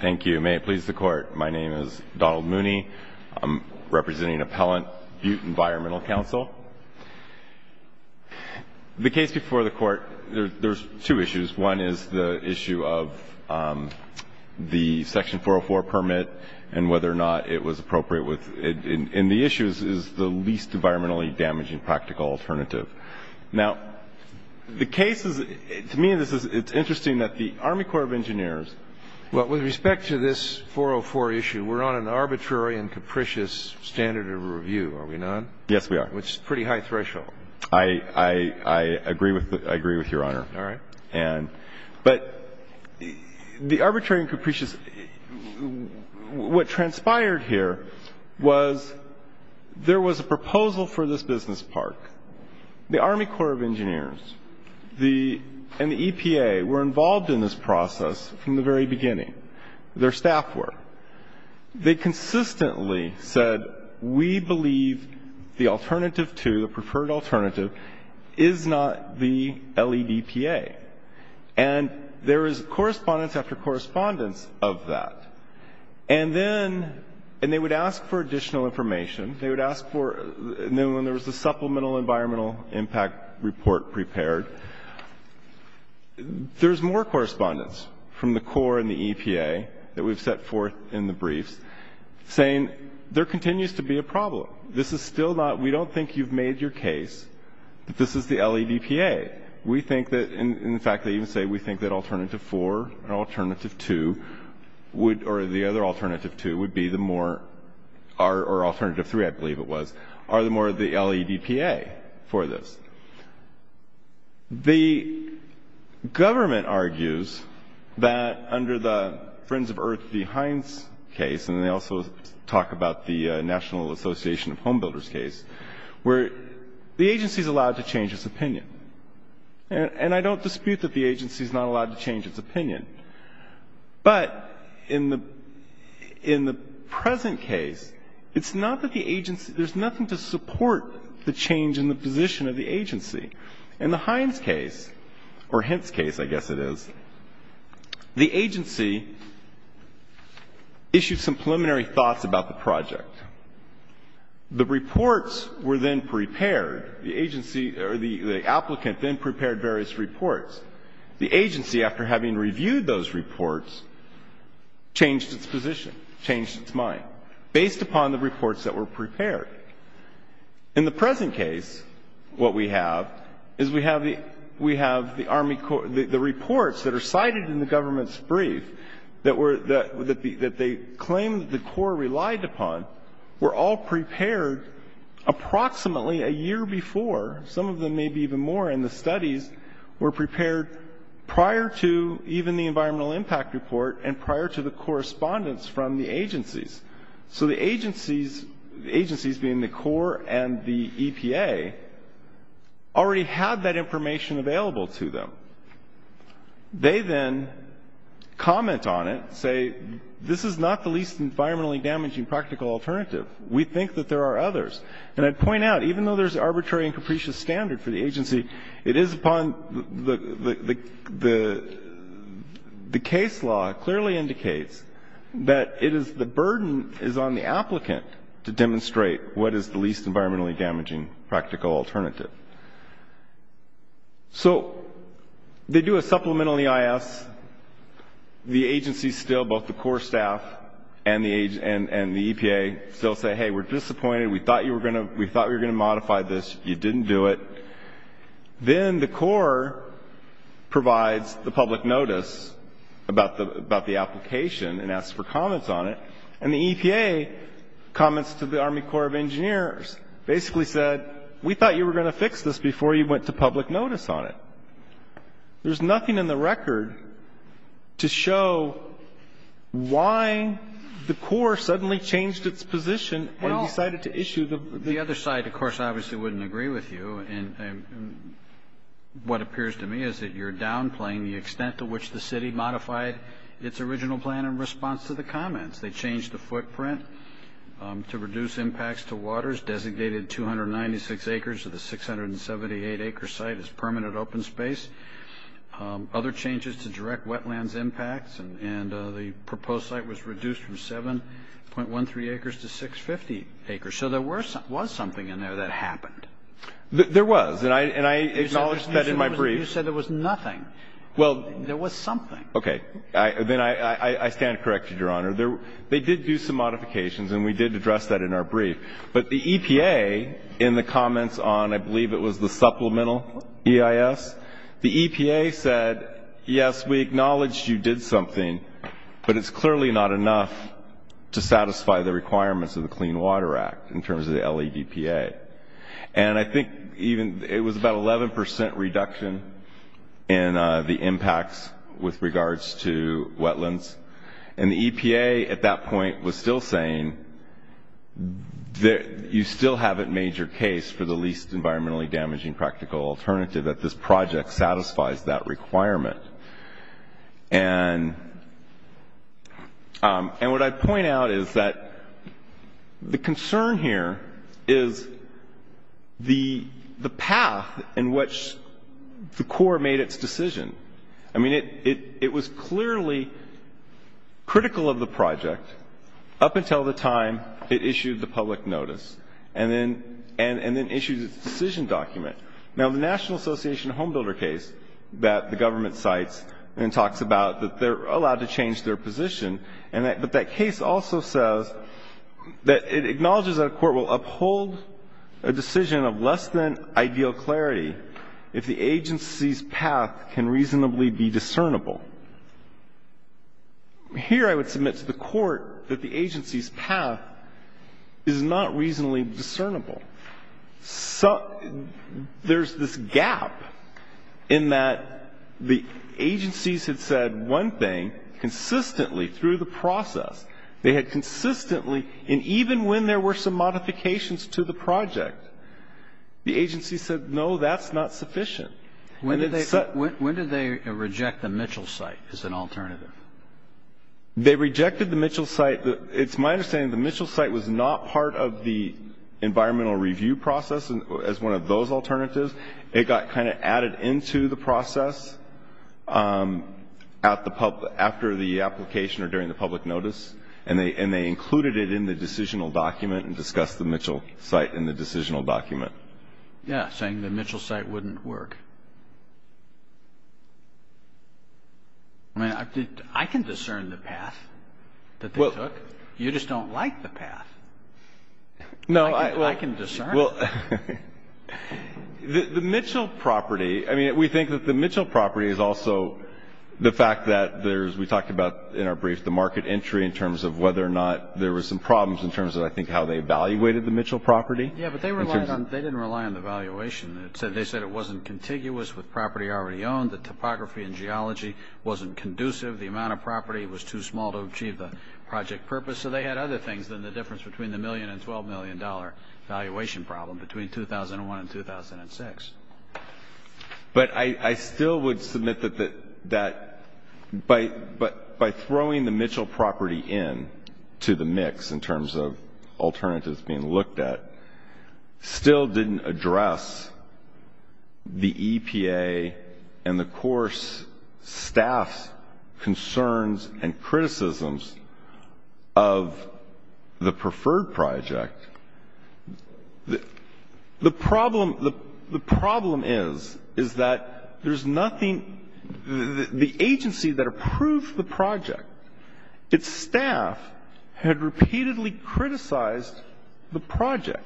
Thank you. May it please the Court. My name is Donald Mooney. I'm representing Appellant Butte Environmental Council. The case before the Court, there's two issues. One is the issue of the Section 404 permit and whether or not it was appropriate. And the issue is the least environmentally damaging practical alternative. Now, the case is, to me, it's interesting that the Army Corps of Engineers Well, with respect to this 404 issue, we're on an arbitrary and capricious standard of review, are we not? Yes, we are. Which is a pretty high threshold. I agree with Your Honor. All right. But the arbitrary and capricious, what transpired here was there was a proposal for this business park. The Army Corps of Engineers and the EPA were involved in this process from the very beginning. Their staff were. They consistently said, we believe the alternative to, the preferred alternative, is not the LEDPA. And there is correspondence after correspondence of that. And then, and they would ask for additional information. They would ask for, and then when there was a supplemental environmental impact report prepared, there's more correspondence from the Corps and the EPA that we've set forth in the briefs, saying there continues to be a problem. This is still not, we don't think you've made your case that this is the LEDPA. We think that, in fact, they even say we think that alternative 4 and alternative 2 would, or the other alternative 2 would be the more, or alternative 3, I believe it was, are the more the LEDPA for this. The government argues that under the Friends of Earth v. Hines case, and they also talk about the National Association of Home Builders case, where the agency's allowed to change its opinion. And I don't dispute that the agency's not allowed to change its opinion. But in the present case, it's not that the agency, there's nothing to support the change in the position of the agency. In the Hines case, or Hintz case, I guess it is, the agency issued some preliminary thoughts about the project. The reports were then prepared. The agency, or the applicant then prepared various reports. The agency, after having reviewed those reports, changed its position, changed its mind, based upon the reports that were prepared. In the present case, what we have is we have the Army Corps, the reports that are cited in the government's brief, that they claim that the Corps relied upon, were all prepared approximately a year before, some of them maybe even more in the studies, were prepared prior to even the environmental impact report and prior to the correspondence from the agencies. So the agencies, the agencies being the Corps and the EPA, already had that information available to them. They then comment on it, say, this is not the least environmentally damaging practical alternative. We think that there are others. And I'd point out, even though there's arbitrary and capricious standard for the agency, it is upon the, the case law clearly indicates that it is, the burden is on the applicant to demonstrate what is the least environmentally damaging practical alternative. So they do a supplement on the IS. The agency still, both the Corps staff and the EPA, still say, hey, we're disappointed. We thought you were going to, we thought we were going to modify this. You didn't do it. Then the Corps provides the public notice about the, about the application and asks for comments on it. And the EPA comments to the Army Corps of Engineers, basically said, we thought you were going to fix this before you went to public notice on it. There's nothing in the record to show why the Corps suddenly changed its position and decided to issue the. The other side, of course, obviously wouldn't agree with you. And what appears to me is that you're downplaying the extent to which the city modified its original plan in response to the comments. They changed the footprint to reduce impacts to waters, designated 296 acres of the 678-acre site as permanent open space. Other changes to direct wetlands impacts. And the proposed site was reduced from 7.13 acres to 650 acres. So there was something in there that happened. There was. And I acknowledged that in my brief. You said there was nothing. Well. There was something. Okay. Then I stand corrected, Your Honor. They did do some modifications, and we did address that in our brief. But the EPA, in the comments on, I believe it was the supplemental EIS, the EPA said, yes, we acknowledge you did something, but it's clearly not enough to satisfy the requirements of the Clean Water Act in terms of the LEDPA. And I think even it was about 11% reduction in the impacts with regards to wetlands. And the EPA at that point was still saying that you still haven't made your case for the least environmentally damaging practical alternative, that this project satisfies that requirement. And what I point out is that the concern here is the path in which the Corps made its decision. I mean, it was clearly critical of the project up until the time it issued the public notice. And then issued its decision document. Now, the National Association of Homebuilder case that the government cites and talks about that they're allowed to change their position, but that case also says that it acknowledges that a court will uphold a decision of less than ideal clarity if the agency's path can reasonably be discernible. Here I would submit to the Court that the agency's path is not reasonably discernible. So there's this gap in that the agencies had said one thing consistently through the process. They had consistently, and even when there were some modifications to the project, the agency said, no, that's not sufficient. When did they reject the Mitchell site as an alternative? They rejected the Mitchell site. It's my understanding the Mitchell site was not part of the environmental review process as one of those alternatives. It got kind of added into the process after the application or during the public notice. And they included it in the decisional document and discussed the Mitchell site in the decisional document. Yeah, saying the Mitchell site wouldn't work. I mean, I can discern the path that they took. You just don't like the path. I can discern it. The Mitchell property, I mean, we think that the Mitchell property is also the fact that there's, we talked about in our brief, the market entry in terms of whether or not there were some problems in terms of, I think, how they evaluated the Mitchell property. Yeah, but they didn't rely on the valuation. They said it wasn't contiguous with property already owned. The topography and geology wasn't conducive. The amount of property was too small to achieve the project purpose. So they had other things than the difference between the million and $12 million valuation problem between 2001 and 2006. But I still would submit that by throwing the Mitchell property in to the mix in terms of alternatives being looked at, still didn't address the EPA and the course staff's concerns and criticisms of the preferred project. The problem is, is that there's nothing, the agency that approved the project, its staff had repeatedly criticized the project.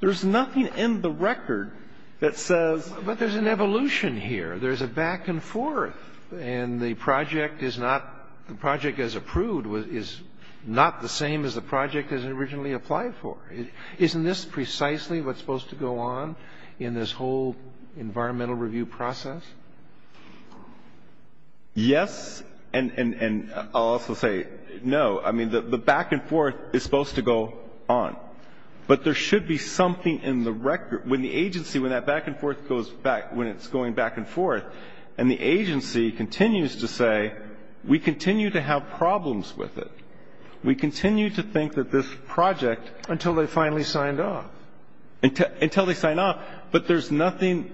There's nothing in the record that says ---- But there's an evolution here. There's a back and forth. And the project is not, the project as approved is not the same as the project as it originally applied for. Isn't this precisely what's supposed to go on in this whole environmental review process? Yes, and I'll also say no. I mean, the back and forth is supposed to go on. But there should be something in the record. When the agency, when that back and forth goes back, when it's going back and forth, and the agency continues to say, we continue to have problems with it, we continue to think that this project ---- Until they finally signed off. Until they signed off. But there's nothing,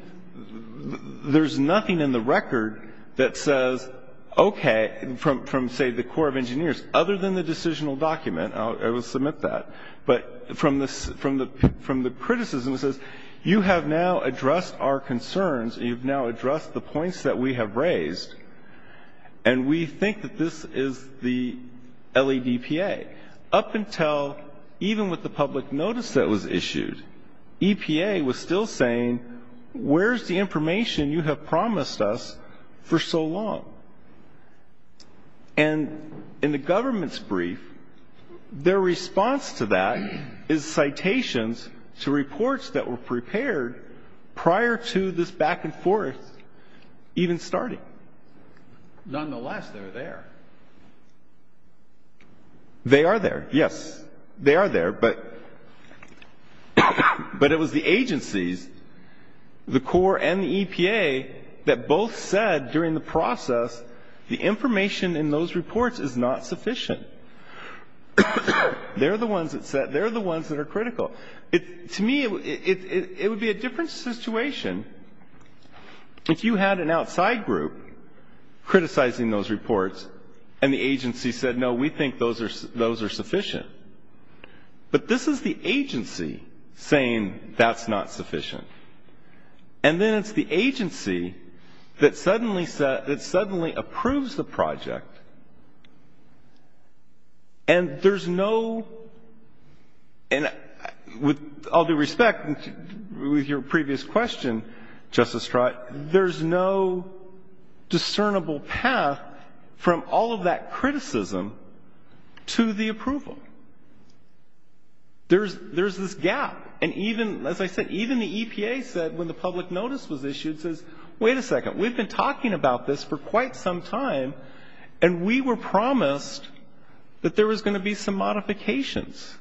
there's nothing in the record that says, okay, from, say, the Corps of Engineers, other than the decisional document, I will submit that. But from the criticism, it says, you have now addressed our concerns. You've now addressed the points that we have raised. And we think that this is the LEDPA. Up until even with the public notice that was issued, EPA was still saying, where's the information you have promised us for so long? And in the government's brief, their response to that is citations to reports that were prepared prior to this back and forth even starting. Nonetheless, they're there. They are there, yes. They are there. But it was the agencies, the Corps and the EPA, that both said during the process, the information in those reports is not sufficient. They're the ones that said, they're the ones that are critical. To me, it would be a different situation if you had an outside group criticizing those reports and the agency said, no, we think those are sufficient. But this is the agency saying that's not sufficient. And then it's the agency that suddenly approves the project. And there's no, and with all due respect, with your previous question, Justice Strott, there's no discernible path from all of that criticism to the approval. There's this gap. And even, as I said, even the EPA said when the public notice was issued, says, wait a second, we've been talking about this for quite some time, and we were promised that there was going to be some modifications.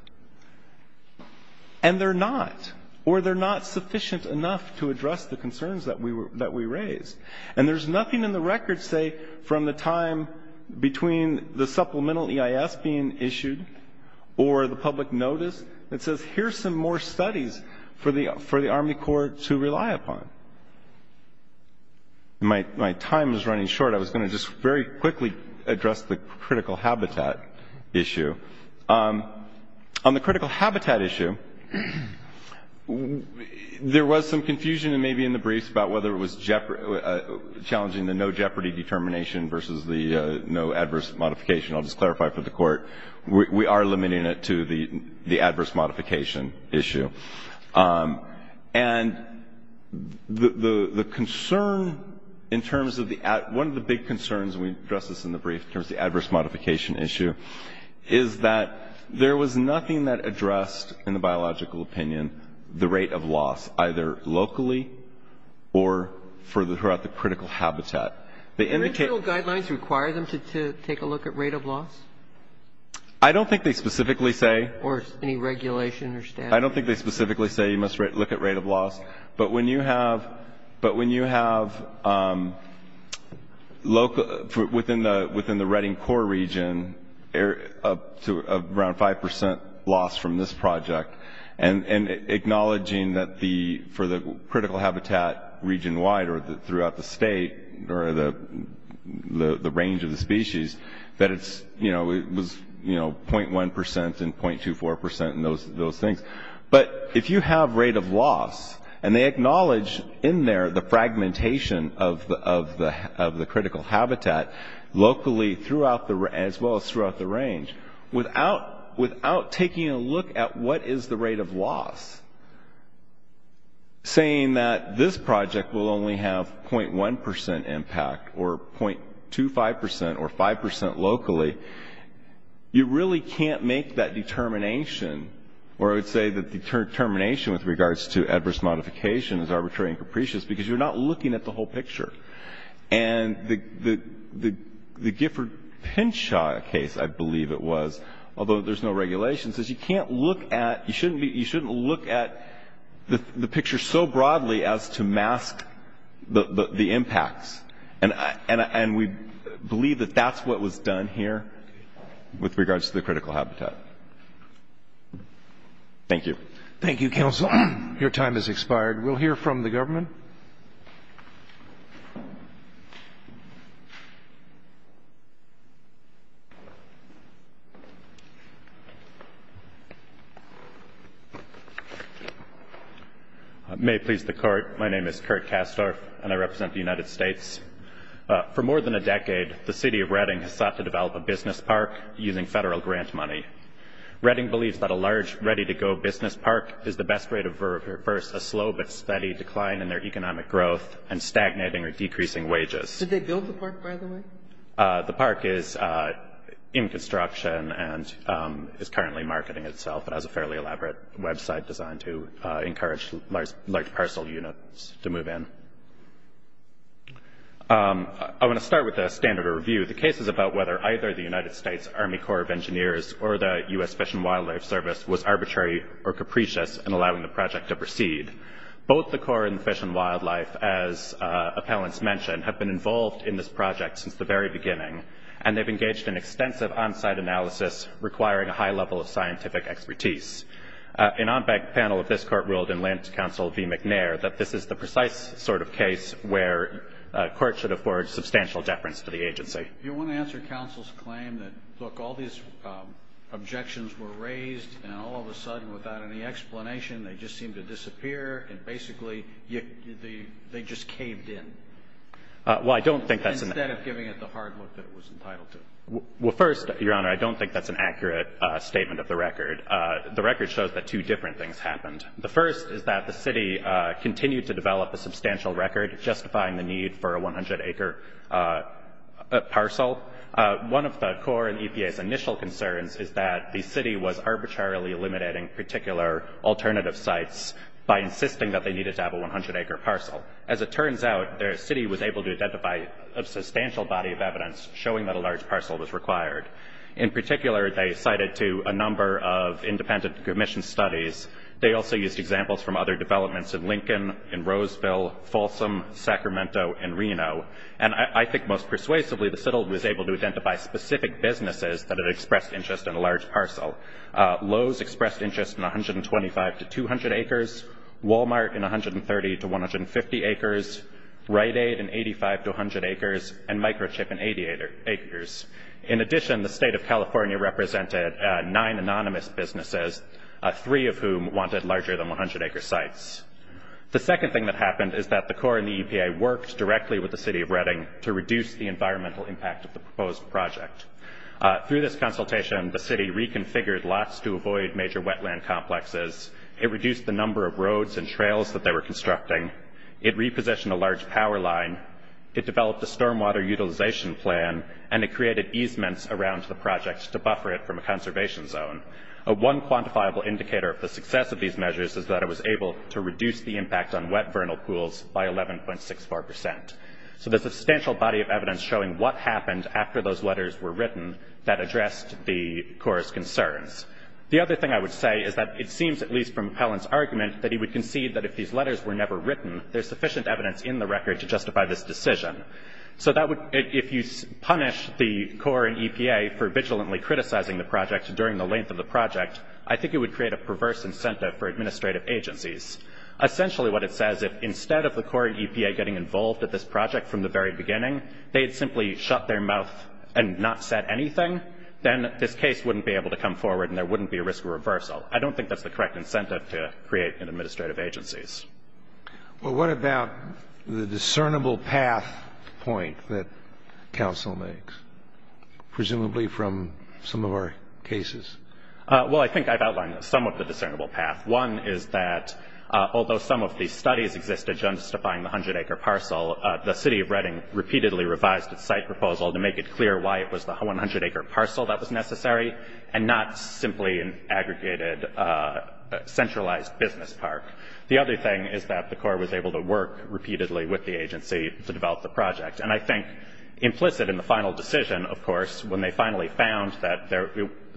And they're not, or they're not sufficient enough to address the concerns that we raised. And there's nothing in the record, say, from the time between the supplemental EIS being issued or the public notice that says, here's some more studies for the Army Corps to rely upon. My time is running short. I was going to just very quickly address the critical habitat issue. On the critical habitat issue, there was some confusion, maybe in the briefs, about whether it was challenging the no jeopardy determination versus the no adverse modification. I'll just clarify for the Court. We are limiting it to the adverse modification issue. And the concern in terms of the at one of the big concerns, and we addressed this in the brief, in terms of the adverse modification issue, is that there was nothing that addressed, in the biological opinion, the rate of loss either locally or throughout the critical habitat. The original guidelines require them to take a look at rate of loss? I don't think they specifically say. Or any regulation or statute? I don't think they specifically say you must look at rate of loss. But when you have within the Reading Corps region, around 5% loss from this project, and acknowledging that for the critical habitat region-wide or throughout the state, or the range of the species, that it was 0.1% and 0.24% and those things. But if you have rate of loss, and they acknowledge in there the fragmentation of the critical habitat, locally as well as throughout the range, saying that this project will only have 0.1% impact or 0.25% or 5% locally, you really can't make that determination, or I would say that determination with regards to adverse modification is arbitrary and capricious because you're not looking at the whole picture. And the Gifford Pinchot case, I believe it was, although there's no regulation, says you can't look at, you shouldn't look at the picture so broadly as to mask the impacts. And we believe that that's what was done here with regards to the critical habitat. Thank you. Thank you, Counsel. Your time has expired. We'll hear from the government. May it please the Court, my name is Kurt Kastorf, and I represent the United States. For more than a decade, the city of Redding has sought to develop a business park using federal grant money. Redding believes that a large, ready-to-go business park is the best way to reverse a slow but steady decline in their economic growth and stagnating or decreasing wages. Did they build the park, by the way? The park is in construction and is currently marketing itself. It has a fairly elaborate website designed to encourage large parcel units to move in. I want to start with a standard of review. The case is about whether either the United States Army Corps of Engineers or the U.S. Fish and Wildlife Service was arbitrary or capricious in allowing the project to proceed. Both the Corps and the Fish and Wildlife, as appellants mentioned, have been involved in this project since the very beginning, and they've engaged in extensive on-site analysis requiring a high level of scientific expertise. An on-bank panel of this Court ruled in Lent Counsel v. McNair that this is the precise sort of case where a court should afford substantial deference to the agency. If you want to answer counsel's claim that, look, all these objections were raised and all of a sudden without any explanation they just seemed to disappear and basically they just caved in instead of giving it the hard look that it was entitled to. Well, first, Your Honor, I don't think that's an accurate statement of the record. The record shows that two different things happened. The first is that the City continued to develop a substantial record justifying the need for a 100-acre parcel. One of the Corps and EPA's initial concerns is that the City was arbitrarily eliminating particular alternative sites by insisting that they needed to have a 100-acre parcel. As it turns out, the City was able to identify a substantial body of evidence showing that a large parcel was required. In particular, they cited to a number of independent commission studies. They also used examples from other developments in Lincoln, in Roseville, Folsom, Sacramento, and Reno. And I think most persuasively the settlement was able to identify specific businesses that had expressed interest in a large parcel. Lowe's expressed interest in 125 to 200 acres, Walmart in 130 to 150 acres, Rite Aid in 85 to 100 acres, and Microchip in 80 acres. In addition, the State of California represented nine anonymous businesses, three of whom wanted larger than 100-acre sites. The second thing that happened is that the Corps and the EPA worked directly with the City of Reading to reduce the environmental impact of the proposed project. Through this consultation, the City reconfigured lots to avoid major wetland complexes. It reduced the number of roads and trails that they were constructing. It repositioned a large power line. It developed a stormwater utilization plan. And it created easements around the project to buffer it from a conservation zone. One quantifiable indicator of the success of these measures is that it was able to reduce the impact on wet vernal pools by 11.64 percent. So there's a substantial body of evidence showing what happened after those letters were written that addressed the Corps' concerns. The other thing I would say is that it seems, at least from Pellin's argument, that he would concede that if these letters were never written, there's sufficient evidence in the record to justify this decision. So if you punish the Corps and EPA for vigilantly criticizing the project during the length of the project, I think it would create a perverse incentive for administrative agencies. Essentially what it says, if instead of the Corps and EPA getting involved at this project from the very beginning, they had simply shut their mouth and not said anything, then this case wouldn't be able to come forward and there wouldn't be a risk of reversal. I don't think that's the correct incentive to create in administrative agencies. Well, what about the discernible path point that counsel makes, presumably from some of our cases? Well, I think I've outlined some of the discernible path. One is that although some of these studies exist to justify the 100-acre parcel, the City of Reading repeatedly revised its site proposal to make it clear why it was the 100-acre parcel that was necessary and not simply an aggregated centralized business park. The other thing is that the Corps was able to work repeatedly with the agency to develop the project. And I think implicit in the final decision, of course, when they finally found that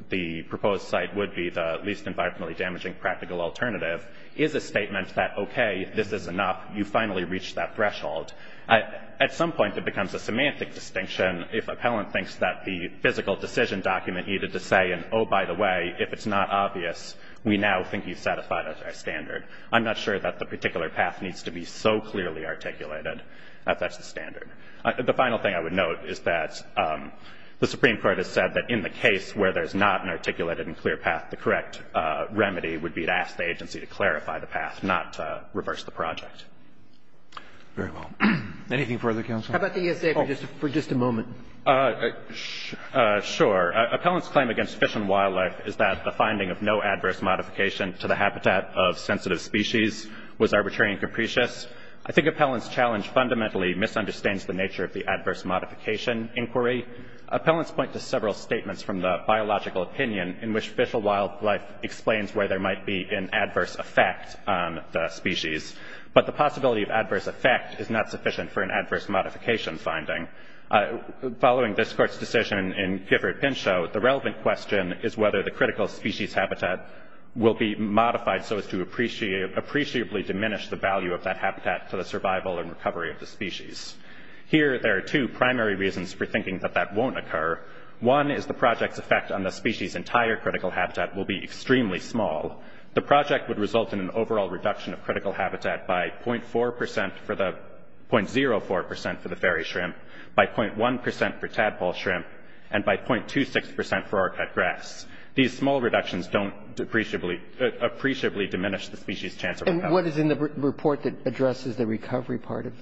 the proposed site would be the least environmentally damaging practical alternative, is a statement that, okay, this is enough. You finally reached that threshold. At some point it becomes a semantic distinction if appellant thinks that the physical decision document needed to say, and oh, by the way, if it's not obvious, we now think you've satisfied our standard. I'm not sure that the particular path needs to be so clearly articulated that that's the standard. The final thing I would note is that the Supreme Court has said that in the case where there's not an articulated and clear path, the correct remedy would be to ask the agency to clarify the path, not reverse the project. Very well. Anything further, counsel? How about the ESA for just a moment? Sure. Appellant's claim against fish and wildlife is that the finding of no adverse modification to the habitat of sensitive species was arbitrary and capricious. I think appellant's challenge fundamentally misunderstands the nature of the adverse modification inquiry. Appellants point to several statements from the biological opinion in which fish or wildlife explains where there might be an adverse effect on the species. But the possibility of adverse effect is not sufficient for an adverse modification finding. Following this court's decision in Gifford-Pinchot, the relevant question is whether the critical species habitat will be modified so as to appreciably diminish the value of that habitat for the survival and recovery of the species. Here there are two primary reasons for thinking that that won't occur. One is the project's effect on the species' entire critical habitat will be extremely small. The project would result in an overall reduction of critical habitat by 0.04% for the fairy shrimp, by 0.1% for tadpole shrimp, and by 0.26% for orchid grass. These small reductions don't appreciably diminish the species' chance of recovery. And what is in the report that addresses the recovery part of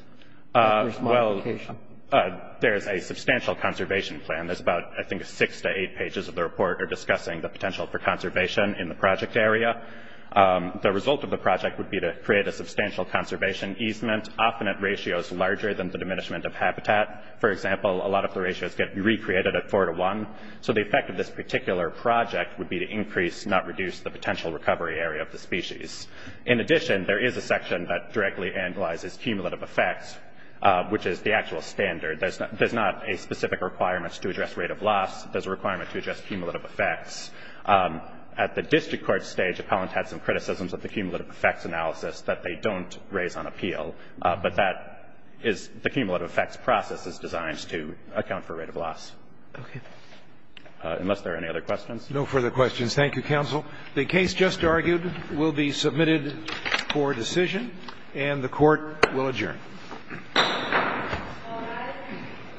adverse modification? Well, there is a substantial conservation plan. There's about, I think, six to eight pages of the report are discussing the potential for conservation in the project area. The result of the project would be to create a substantial conservation easement, often at ratios larger than the diminishment of habitat. For example, a lot of the ratios get recreated at four to one. So the effect of this particular project would be to increase, not reduce, the potential recovery area of the species. In addition, there is a section that directly analyzes cumulative effects, which is the actual standard. There's not a specific requirement to address rate of loss. There's a requirement to address cumulative effects. At the district court stage, appellants had some criticisms of the cumulative effects analysis that they don't raise on appeal, but that is the cumulative effects process is designed to account for rate of loss. Okay. Unless there are any other questions. No further questions. Thank you, counsel. The case just argued will be submitted for decision, and the court will adjourn. All rise.